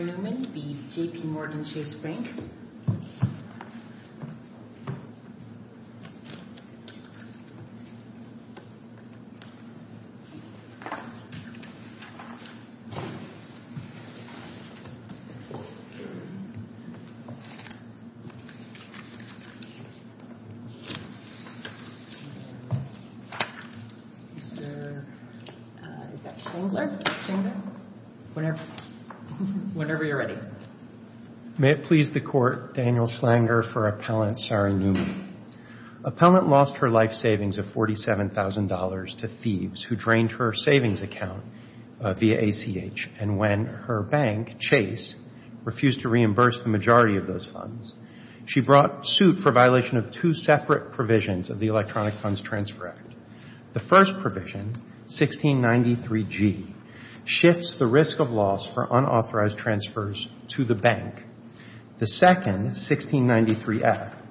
Mr. Newman v. JPMorgan Chase Bank, N.A. May it please the Court, Daniel Schlanger for Appellant Sarah Newman. Appellant lost her life savings of $47,000 to thieves who drained her savings account via ACH, and when her bank, Chase, refused to reimburse the majority of those funds, she brought suit for violation of two separate provisions of the Electronic Funds Transfer Act. The first provision, 1693G, shifts the risk of loss for unauthorized transfers to the bank. The second, 1693F,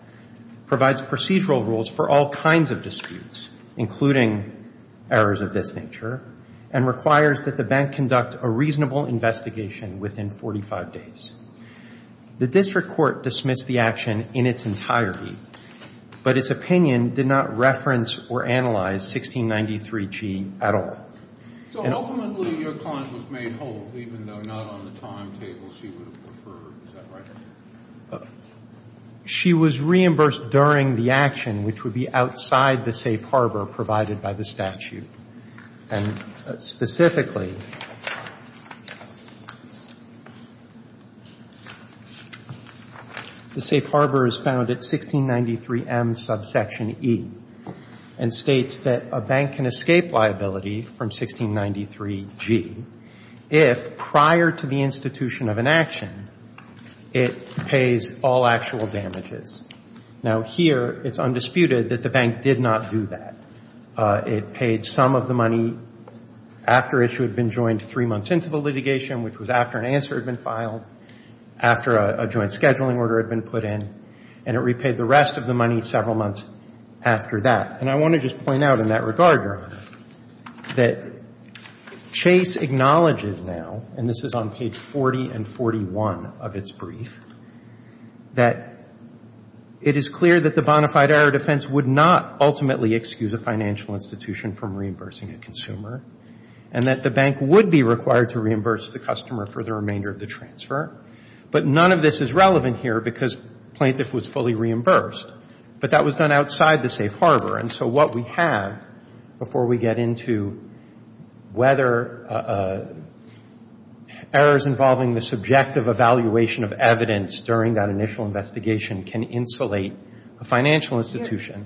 provides procedural rules for all kinds of disputes, including errors of this nature, and requires that the bank conduct a reasonable investigation within 45 days. The district court dismissed the action in its entirety, but its opinion did not reference or analyze 1693G at all. And ultimately, your client was made whole, even though not on the timetable she would have preferred. Is that right? She was reimbursed during the action, which would be outside the safe harbor provided by the statute. And specifically, the safe harbor is found at 1693M, subsection E, and states that a bank can escape liability from 1693G if, prior to the institution of an action, it pays all actual damages. Now, here, it's undisputed that the bank did not do that. It paid some of the money after issue had been joined three months into the litigation, which was after an answer had been filed, after a joint scheduling order had been put in, and it repaid the rest of the money several months after that. And I want to just point out in that regard, Your Honor, that Chase acknowledges now, and this is on page 40 and 41 of its brief, that it is clear that the bona fide error defense would not ultimately excuse a financial institution from reimbursing a consumer and that the bank would be required to reimburse the customer for the remainder of the transfer. But none of this is relevant here because plaintiff was fully reimbursed. But that was done outside the safe harbor. And so what we have, before we get into whether errors involving the subjective evaluation of evidence during that initial investigation can insulate a financial institution.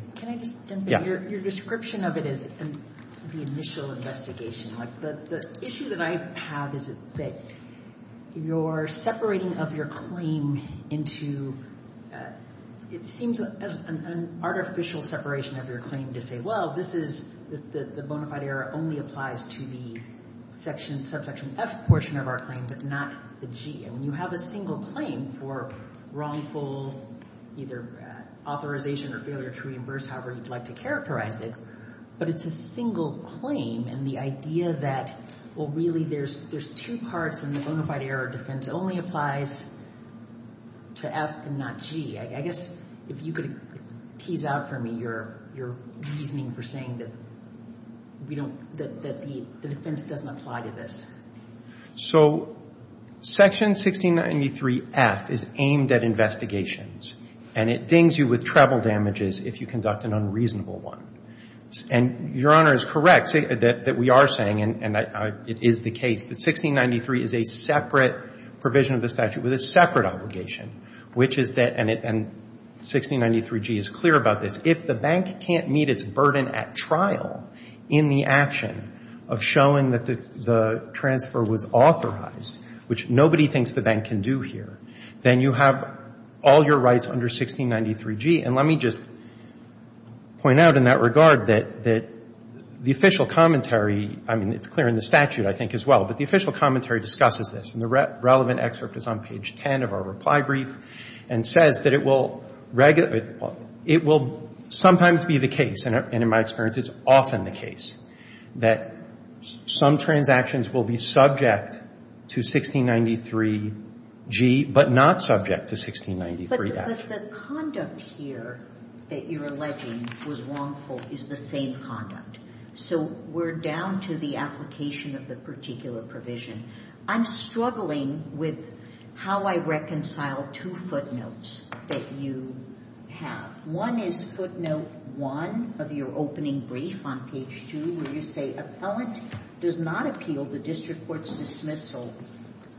Your description of it is the initial investigation. The issue that I have is that you're separating of your claim into, it seems an artificial separation of your claim to say, well, this is the bona fide error only applies to the section, subsection F portion of our claim, but not the G. And when you have a single claim for wrongful either authorization or failure to reimburse, however you'd like to characterize it, but it's a single claim. And the idea that, well, really there's two parts in the bona fide error defense only applies to F and not G. I guess if you could tease out for me your reasoning for saying that the defense doesn't apply to this. So section 1693F is aimed at investigations. And it dings you with treble damages if you conduct an unreasonable one. And Your Honor is correct that we are saying, and it is the case, that 1693 is a separate provision of the statute with a separate obligation, which is that, and 1693G is clear about this, but if the bank can't meet its burden at trial in the action of showing that the transfer was authorized, which nobody thinks the bank can do here, then you have all your rights under 1693G. And let me just point out in that regard that the official commentary, I mean, it's clear in the statute, I think, as well, but the official commentary discusses this. And the relevant excerpt is on page 10 of our reply brief and says that it will sometimes be the case, and in my experience it's often the case, that some transactions will be subject to 1693G but not subject to 1693F. But the conduct here that you're alleging was wrongful is the same conduct. So we're down to the application of the particular provision. I'm struggling with how I reconcile two footnotes that you have. One is footnote one of your opening brief on page two where you say, Appellant does not appeal the district court's dismissal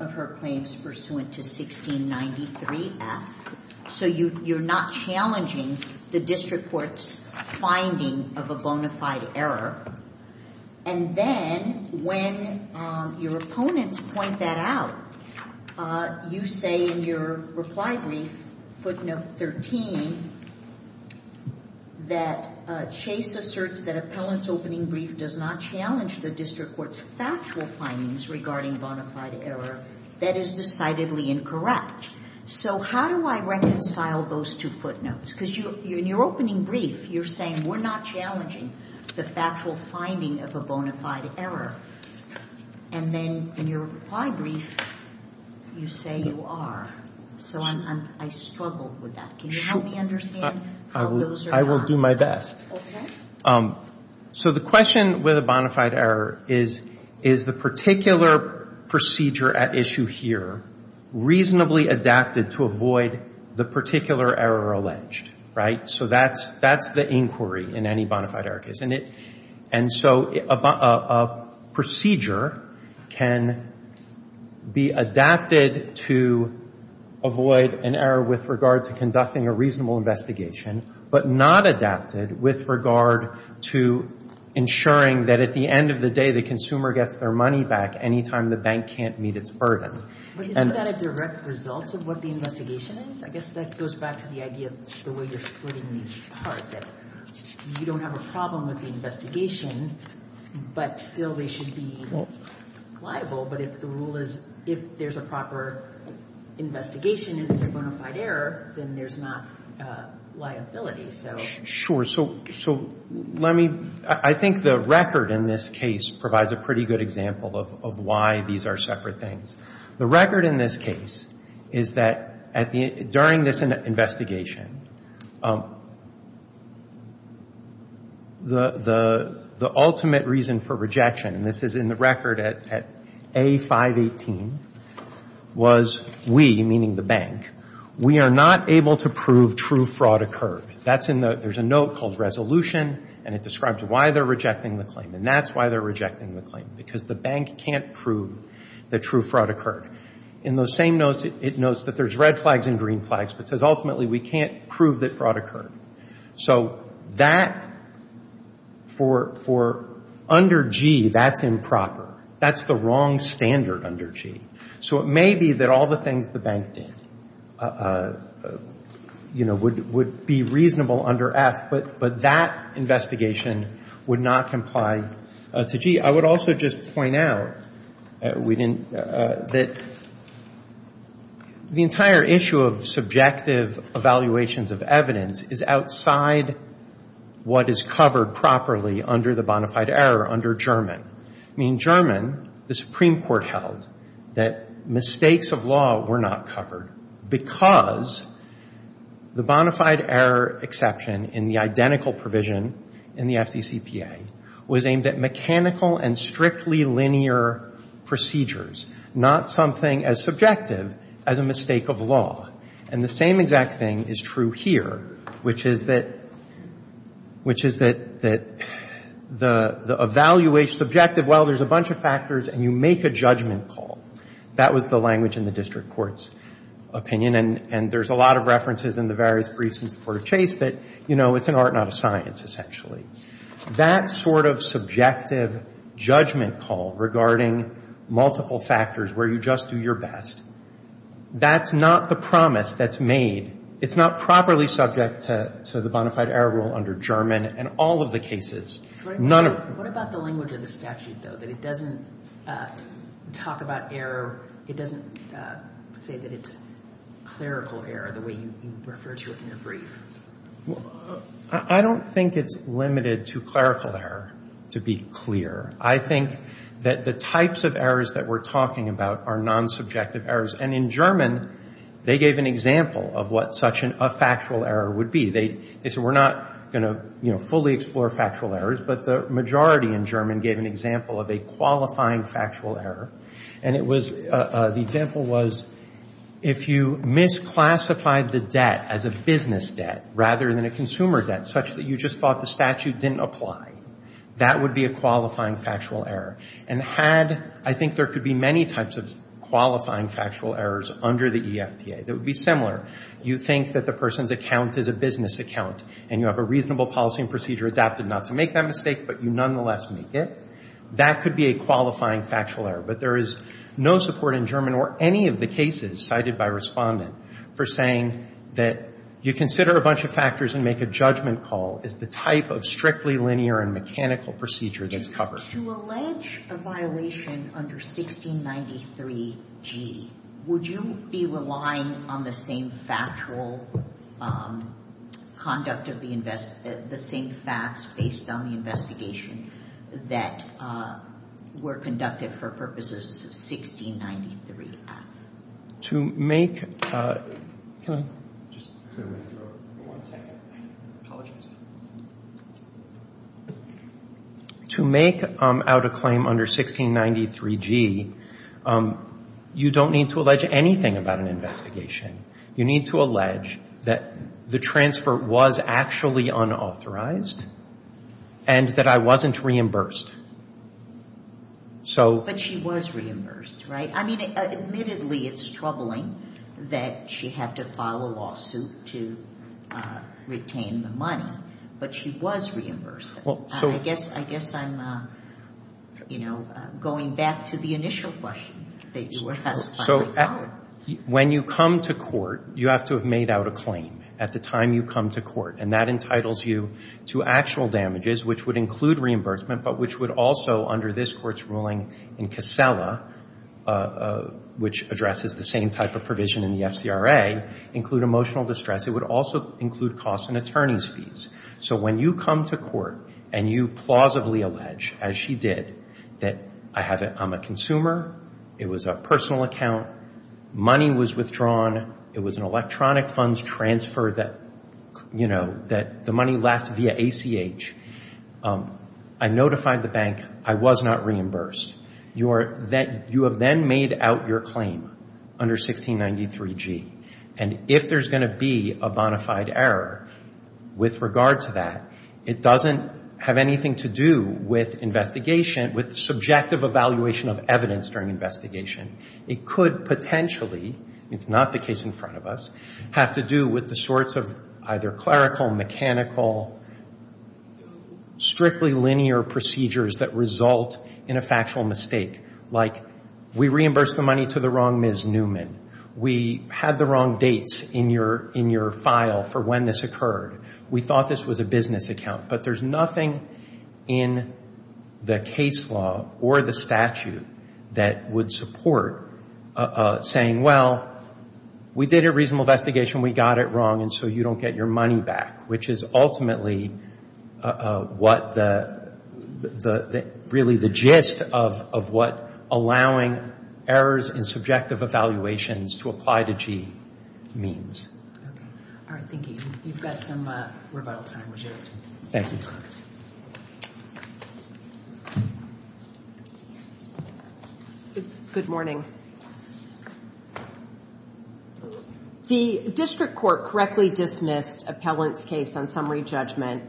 of her claims pursuant to 1693F. So you're not challenging the district court's finding of a bona fide error. And then when your opponents point that out, you say in your reply brief, footnote 13, that Chase asserts that Appellant's opening brief does not challenge the district court's factual findings regarding bona fide error. That is decidedly incorrect. So how do I reconcile those two footnotes? Because in your opening brief, you're saying we're not challenging the factual finding of a bona fide error. And then in your reply brief, you say you are. So I struggle with that. Can you help me understand how those are done? I will do my best. Okay. So the question with a bona fide error is, is the particular procedure at issue here reasonably adapted to avoid the particular error alleged? Right? So that's the inquiry in any bona fide error case. And so a procedure can be adapted to avoid an error with regard to conducting a reasonable investigation, but not adapted with regard to ensuring that at the end of the day, the consumer gets their money back any time the bank can't meet its burden. But isn't that a direct result of what the investigation is? I guess that goes back to the idea of the way you're splitting these apart, that you don't have a problem with the investigation, but still they should be liable. But if the rule is, if there's a proper investigation and it's a bona fide error, then there's not liability. Sure. So let me, I think the record in this case provides a pretty good example of why these are separate things. The record in this case is that during this investigation, the ultimate reason for rejection, and this is in the record at A-518, was we, meaning the bank, we are not able to prove true fraud occurred. That's in the, there's a note called resolution, and it describes why they're rejecting the claim. And that's why they're rejecting the claim, because the bank can't prove that true fraud occurred. In those same notes, it notes that there's red flags and green flags, but says ultimately we can't prove that fraud occurred. So that, for under G, that's improper. That's the wrong standard under G. So it may be that all the things the bank did, you know, would be reasonable under F, but that investigation would not comply to G. I would also just point out that we didn't, that the entire issue of subjective evaluations of evidence is outside what is covered properly under the bona fide error under German. I mean, German, the Supreme Court held that mistakes of law were not covered, because the bona fide error exception in the identical provision in the FDCPA was aimed at mechanical and strictly linear procedures, not something as subjective as a mistake of law. And the same exact thing is true here, which is that, which is that the evaluation, subjective, well, there's a bunch of factors, and you make a judgment call. That was the language in the district court's opinion, and there's a lot of references in the various briefs since the Court of Chase that, you know, it's an art, not a science, essentially. That sort of subjective judgment call regarding multiple factors where you just do your best, that's not the promise that's made. It's not properly subject to the bona fide error rule under German in all of the cases. None of them. What about the language of the statute, though, that it doesn't talk about error, it doesn't say that it's clerical error, the way you refer to it in your brief? I don't think it's limited to clerical error, to be clear. I think that the types of errors that we're talking about are non-subjective errors. And in German, they gave an example of what such a factual error would be. They said we're not going to, you know, fully explore factual errors, but the majority in German gave an example of a qualifying factual error. And it was, the example was, if you misclassified the debt as a business debt rather than a consumer debt, such that you just thought the statute didn't apply, that would be a qualifying factual error. And had, I think there could be many types of qualifying factual errors under the EFTA that would be similar. You think that the person's account is a business account, and you have a reasonable policy and procedure adapted not to make that mistake, but you nonetheless make it, that could be a qualifying factual error. But there is no support in German or any of the cases cited by Respondent for saying that you consider a bunch of factors and make a judgment call is the type of strictly linear and mechanical procedure that's covered. To allege a violation under 1693G, would you be relying on the same factual conduct of the invest, the same facts based on the investigation that were conducted for purposes of 1693F? To make, can I just clear my throat for one second? Apologies. To make out a claim under 1693G, you don't need to allege anything about an investigation. You need to allege that the transfer was actually unauthorized and that I wasn't reimbursed. But she was reimbursed, right? I mean, admittedly, it's troubling that she had to file a lawsuit to retain the money, but she was reimbursed. I guess I'm, you know, going back to the initial question that you were asking. So when you come to court, you have to have made out a claim at the time you come to court, and that entitles you to actual damages, which would include reimbursement, but which would also, under this Court's ruling in Casella, which addresses the same type of provision in the FCRA, include emotional distress. It would also include costs and attorney's fees. So when you come to court and you plausibly allege, as she did, that I'm a consumer, it was a personal account, money was withdrawn, it was an electronic funds transfer that, you know, the money left via ACH, I notified the bank I was not reimbursed. You have then made out your claim under 1693G. And if there's going to be a bona fide error with regard to that, it doesn't have anything to do with investigation, with subjective evaluation of evidence during investigation. It could potentially, it's not the case in front of us, have to do with the sorts of either clerical, mechanical, strictly linear procedures that result in a factual mistake, like we reimbursed the money to the wrong Ms. Newman. We had the wrong dates in your file for when this occurred. We thought this was a business account. But there's nothing in the case law or the statute that would support saying, well, we did a reasonable investigation, we got it wrong, and so you don't get your money back, which is ultimately what the, really the gist of what allowing errors and subjective evaluations to apply to G means. All right, thank you. You've got some rebuttal time, would you? Thank you. Good morning. The district court correctly dismissed Appellant's case on summary judgment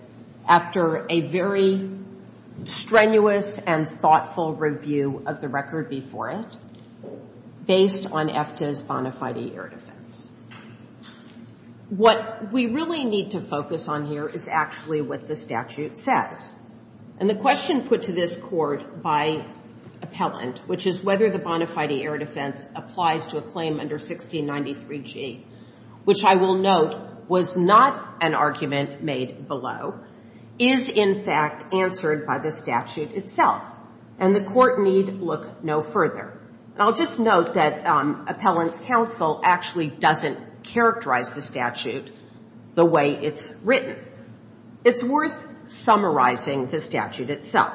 after a very strenuous and thoughtful review of the record before it was submitted. and to look at the case in detail based on EFTA's bona fide error defense. What we really need to focus on here is actually what the statute says. And the question put to this court by Appellant, which is whether the bona fide error defense applies to a claim under 1693G, which I will note was not an argument made below, is in fact answered by the statute itself. And the court need look no further. And I'll just note that Appellant's counsel actually doesn't characterize the statute the way it's written. It's worth summarizing the statute itself.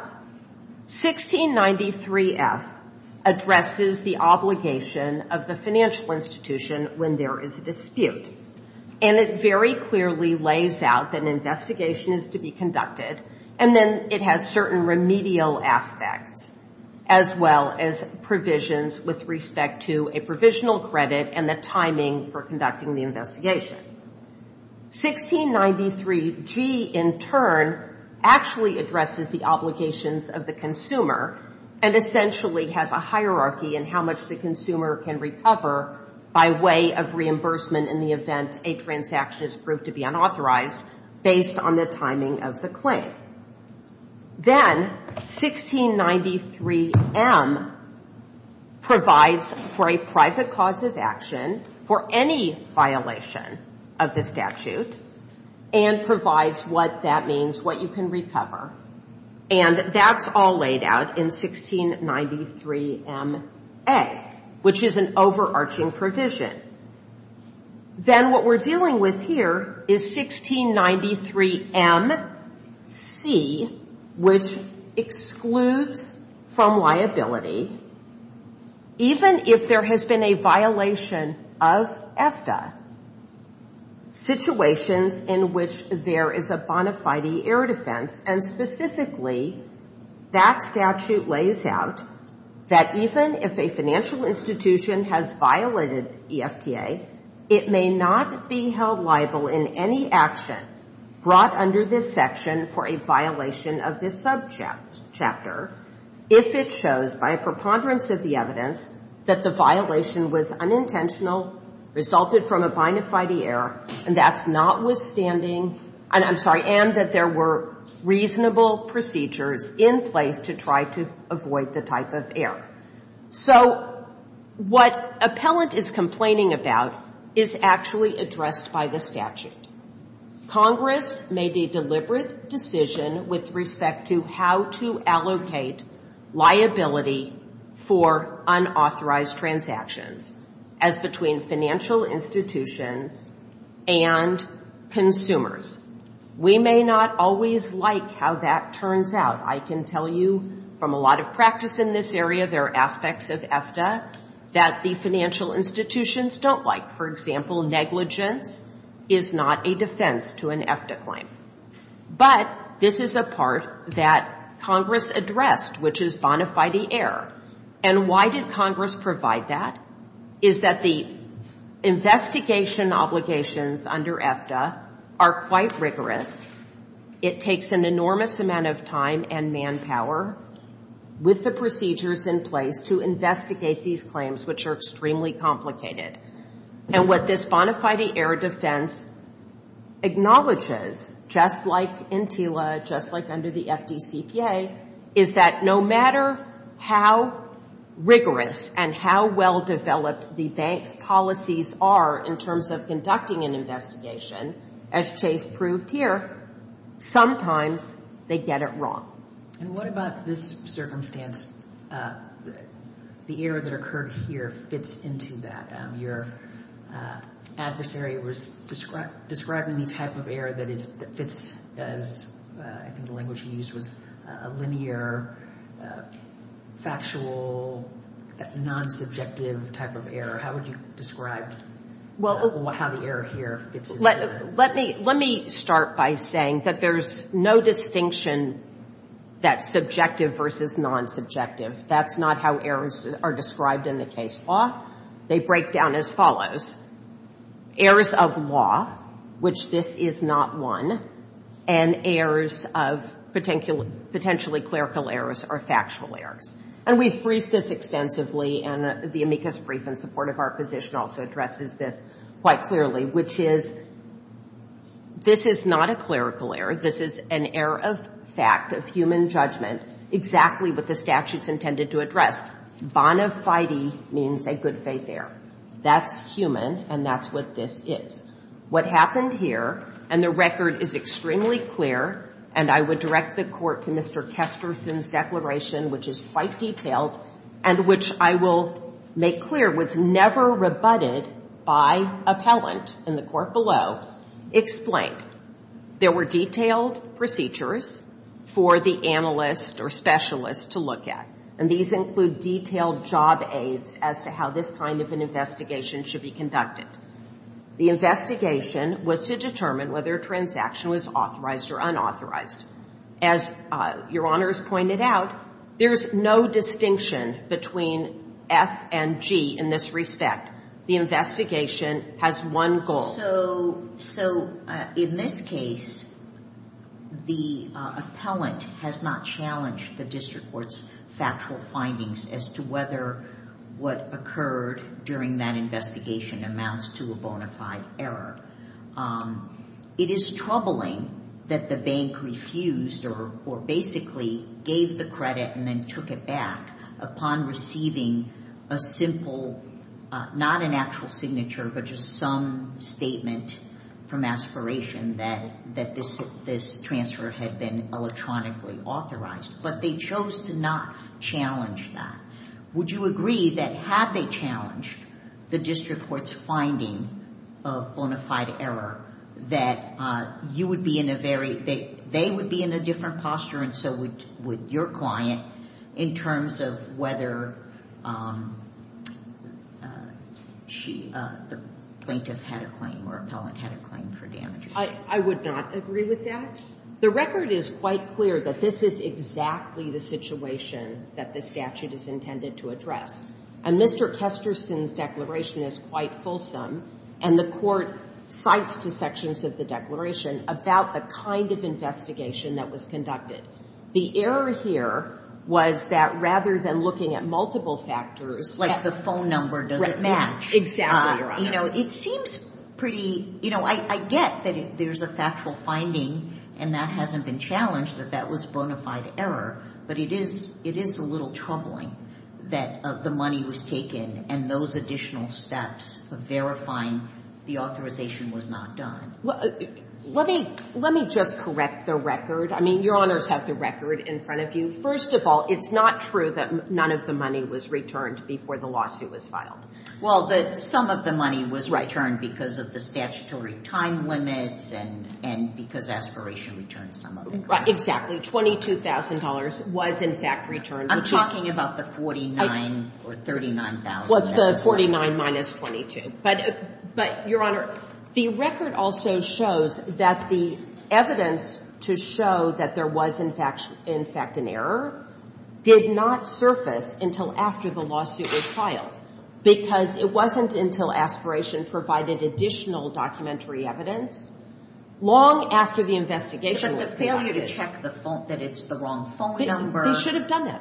1693F addresses the obligation of the financial institution when there is a dispute. And it very clearly lays out that an investigation is to be conducted, and then it has certain remedial aspects, as well as provisions with respect to a provisional credit and the timing for conducting the investigation. 1693G, in turn, actually addresses the obligations of the consumer and essentially has a hierarchy in how much the consumer can recover by way of reimbursement in the event a transaction is proved to be unauthorized based on the timing of the claim. Then 1693M provides for a private cause of action for any violation of the statute and provides what that means, what you can recover. And that's all laid out in 1693MA, which is an overarching provision. Then what we're dealing with here is 1693MC, which excludes from liability even if there has been a violation of EFTA. Situations in which there is a bona fide error defense, and specifically that statute lays out that even if a financial institution has violated EFTA, it may not be held liable in any action brought under this section for a violation of this subject chapter if it shows by a preponderance of the evidence that the violation was unintentional, resulted from a bona fide error, and that's notwithstanding, and I'm sorry, and that there were reasonable procedures in place to try to avoid the type of error. So what Appellant is complaining about is actually addressed by the statute. Congress made a deliberate decision with respect to how to allocate liability for unauthorized transactions as between financial institutions and consumers. We may not always like how that turns out. I can tell you from a lot of practice in this area, there are aspects of EFTA that the financial institutions don't like. For example, negligence is not a defense to an EFTA claim. But this is a part that Congress addressed, which is bona fide error. And why did Congress provide that? Is that the investigation obligations under EFTA are quite rigorous. It takes an enormous amount of time and manpower with the procedures in place to investigate these claims, which are extremely complicated. And what this bona fide error defense acknowledges, just like in TILA, just like under the FDCPA, is that no matter how rigorous and how well-developed the bank's policies are in terms of conducting an investigation, as Chase proved here, sometimes they get it wrong. And what about this circumstance? The error that occurred here fits into that. Your adversary was describing the type of error that fits, as I think the language used, was a linear, factual, non-subjective type of error. How would you describe how the error here fits into that? Let me start by saying that there's no distinction that's subjective versus non-subjective. That's not how errors are described in the case law. They break down as follows. Errors of law, which this is not one, and errors of potentially clerical errors are factual errors. And we've briefed this extensively, and the amicus brief in support of our position also addresses this quite clearly, which is this is not a clerical error. This is an error of fact, of human judgment, exactly what the statute's intended to address. Bonafide means a good-faith error. That's human, and that's what this is. What happened here, and the record is extremely clear, and I would direct the Court to Mr. Kesterson's declaration, which is quite detailed and which I will make clear was never rebutted by appellant in the court below, explained. There were detailed procedures for the analyst or specialist to look at, and these include detailed job aids as to how this kind of an investigation should be conducted. The investigation was to determine whether a transaction was authorized or unauthorized. As Your Honors pointed out, there's no distinction between F and G in this respect. The investigation has one goal. So in this case, the appellant has not challenged the district court's factual findings as to whether what occurred during that investigation amounts to a bona fide error. It is troubling that the bank refused or basically gave the credit and then took it back upon receiving a simple, not an actual signature, but just some statement from aspiration that this transfer had been electronically authorized. But they chose to not challenge that. Would you agree that had they challenged the district court's finding of bona fide error that you would be in a very, that they would be in a different posture and so would your client in terms of whether she, the plaintiff had a claim or appellant had a claim for damages? I would not agree with that. The record is quite clear that this is exactly the situation that the statute is intended to address. And Mr. Kesterson's declaration is quite fulsome. And the court cites two sections of the declaration about the kind of investigation that was conducted. The error here was that rather than looking at multiple factors. Like the phone number doesn't match. Exactly, Your Honor. You know, it seems pretty, you know, I get that there's a factual finding and that hasn't been challenged, that that was bona fide error. But it is a little troubling that the money was taken and those additional steps of verifying the authorization was not done. Let me just correct the record. I mean, Your Honors have the record in front of you. First of all, it's not true that none of the money was returned before the lawsuit was filed. Well, some of the money was returned because of the statutory time limits and because aspiration returned some of it. Exactly. $22,000 was, in fact, returned. I'm talking about the $49,000 or $39,000. Well, it's the $49,000 minus $22,000. But, Your Honor, the record also shows that the evidence to show that there was, in fact, an error did not surface until after the lawsuit was filed because it wasn't until aspiration provided additional documentary evidence long after the investigation was conducted. But the failure to check the phone, that it's the wrong phone number. They should have done that.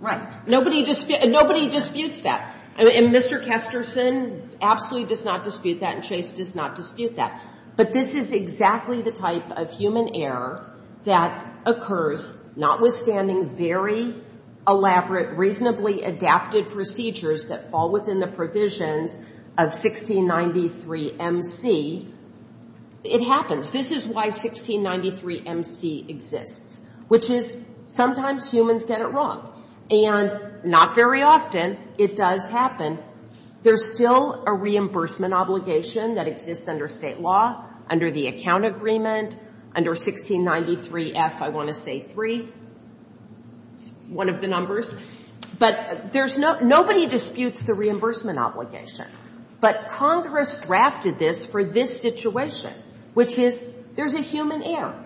Right. Nobody disputes that. And Mr. Kestersen absolutely does not dispute that, and Chase does not dispute that. But this is exactly the type of human error that occurs notwithstanding very elaborate, reasonably adapted procedures that fall within the provisions of 1693 MC. It happens. This is why 1693 MC exists, which is sometimes humans get it wrong. And not very often, it does happen. There's still a reimbursement obligation that exists under state law, under the account agreement, under 1693 F, I want to say, 3. It's one of the numbers. But nobody disputes the reimbursement obligation. But Congress drafted this for this situation, which is there's a human error.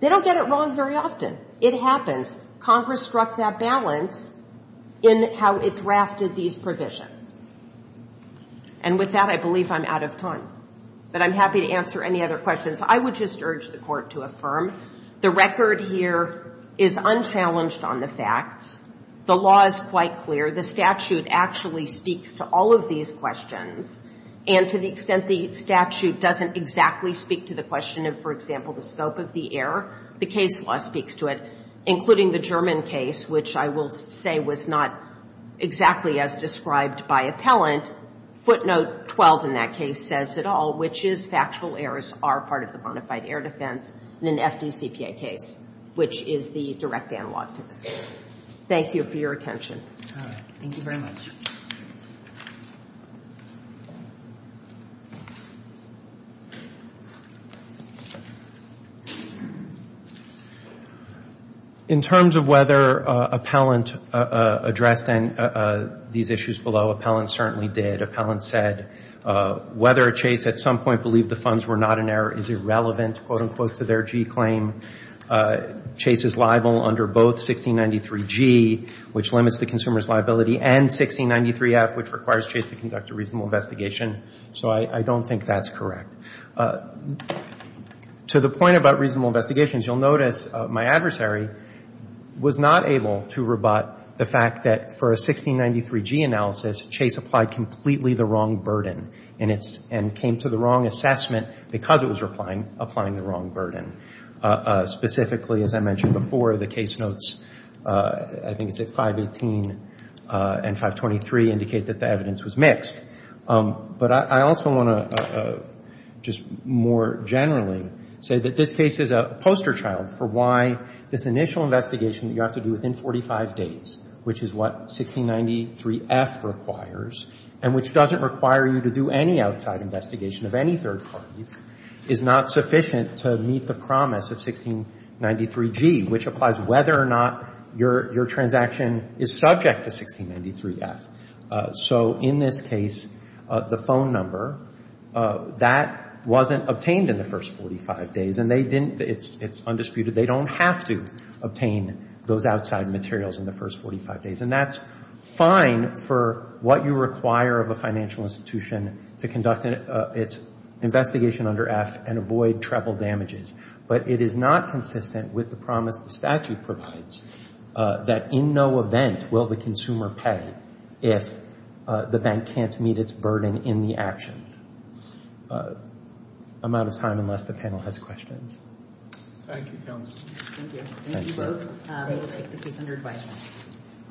They don't get it wrong very often. It happens. Congress struck that balance in how it drafted these provisions. And with that, I believe I'm out of time. But I'm happy to answer any other questions. I would just urge the Court to affirm the record here is unchallenged on the facts. The law is quite clear. The statute actually speaks to all of these questions. And to the extent the statute doesn't exactly speak to the question of, for example, the scope of the error, the case law speaks to it, including the German case, which I will say was not exactly as described by appellant. Footnote 12 in that case says it all, which is factual errors are part of the bona fide error defense in an FDCPA case, which is the direct analog to this case. Thank you for your attention. Thank you very much. In terms of whether appellant addressed these issues below, appellant certainly did. Appellant said whether Chase at some point believed the funds were not an error is irrelevant, quote, unquote, to their G claim. Chase is liable under both 1693G, which limits the consumer's liability, and 1693F, which requires Chase to conduct a reasonable investigation. So I don't think that's correct. To the point about reasonable investigations, you'll notice my adversary was not able to rebut the fact that for a 1693G analysis, Chase applied completely the wrong burden and came to the wrong assessment because it was applying the wrong burden. Specifically, as I mentioned before, the case notes, I think it's at 518 and 523, indicate that the evidence was mixed. But I also want to just more generally say that this case is a poster child for why this initial investigation that you have to do within 45 days, which is what 1693F requires and which doesn't require you to do any outside investigation of any third parties, is not sufficient to meet the promise of 1693G, which applies whether or not your transaction is subject to 1693F. So in this case, the phone number, that wasn't obtained in the first 45 days. And they didn't, it's undisputed, they don't have to obtain those outside materials in the first 45 days. And that's fine for what you require of a financial institution to conduct its investigation under F and avoid treble damages. But it is not consistent with the promise the statute provides that in no event will the consumer pay if the bank can't meet its burden in the action. I'm out of time unless the panel has questions. Thank you, counsel. Thank you. Thank you both. We will take the presenter's question.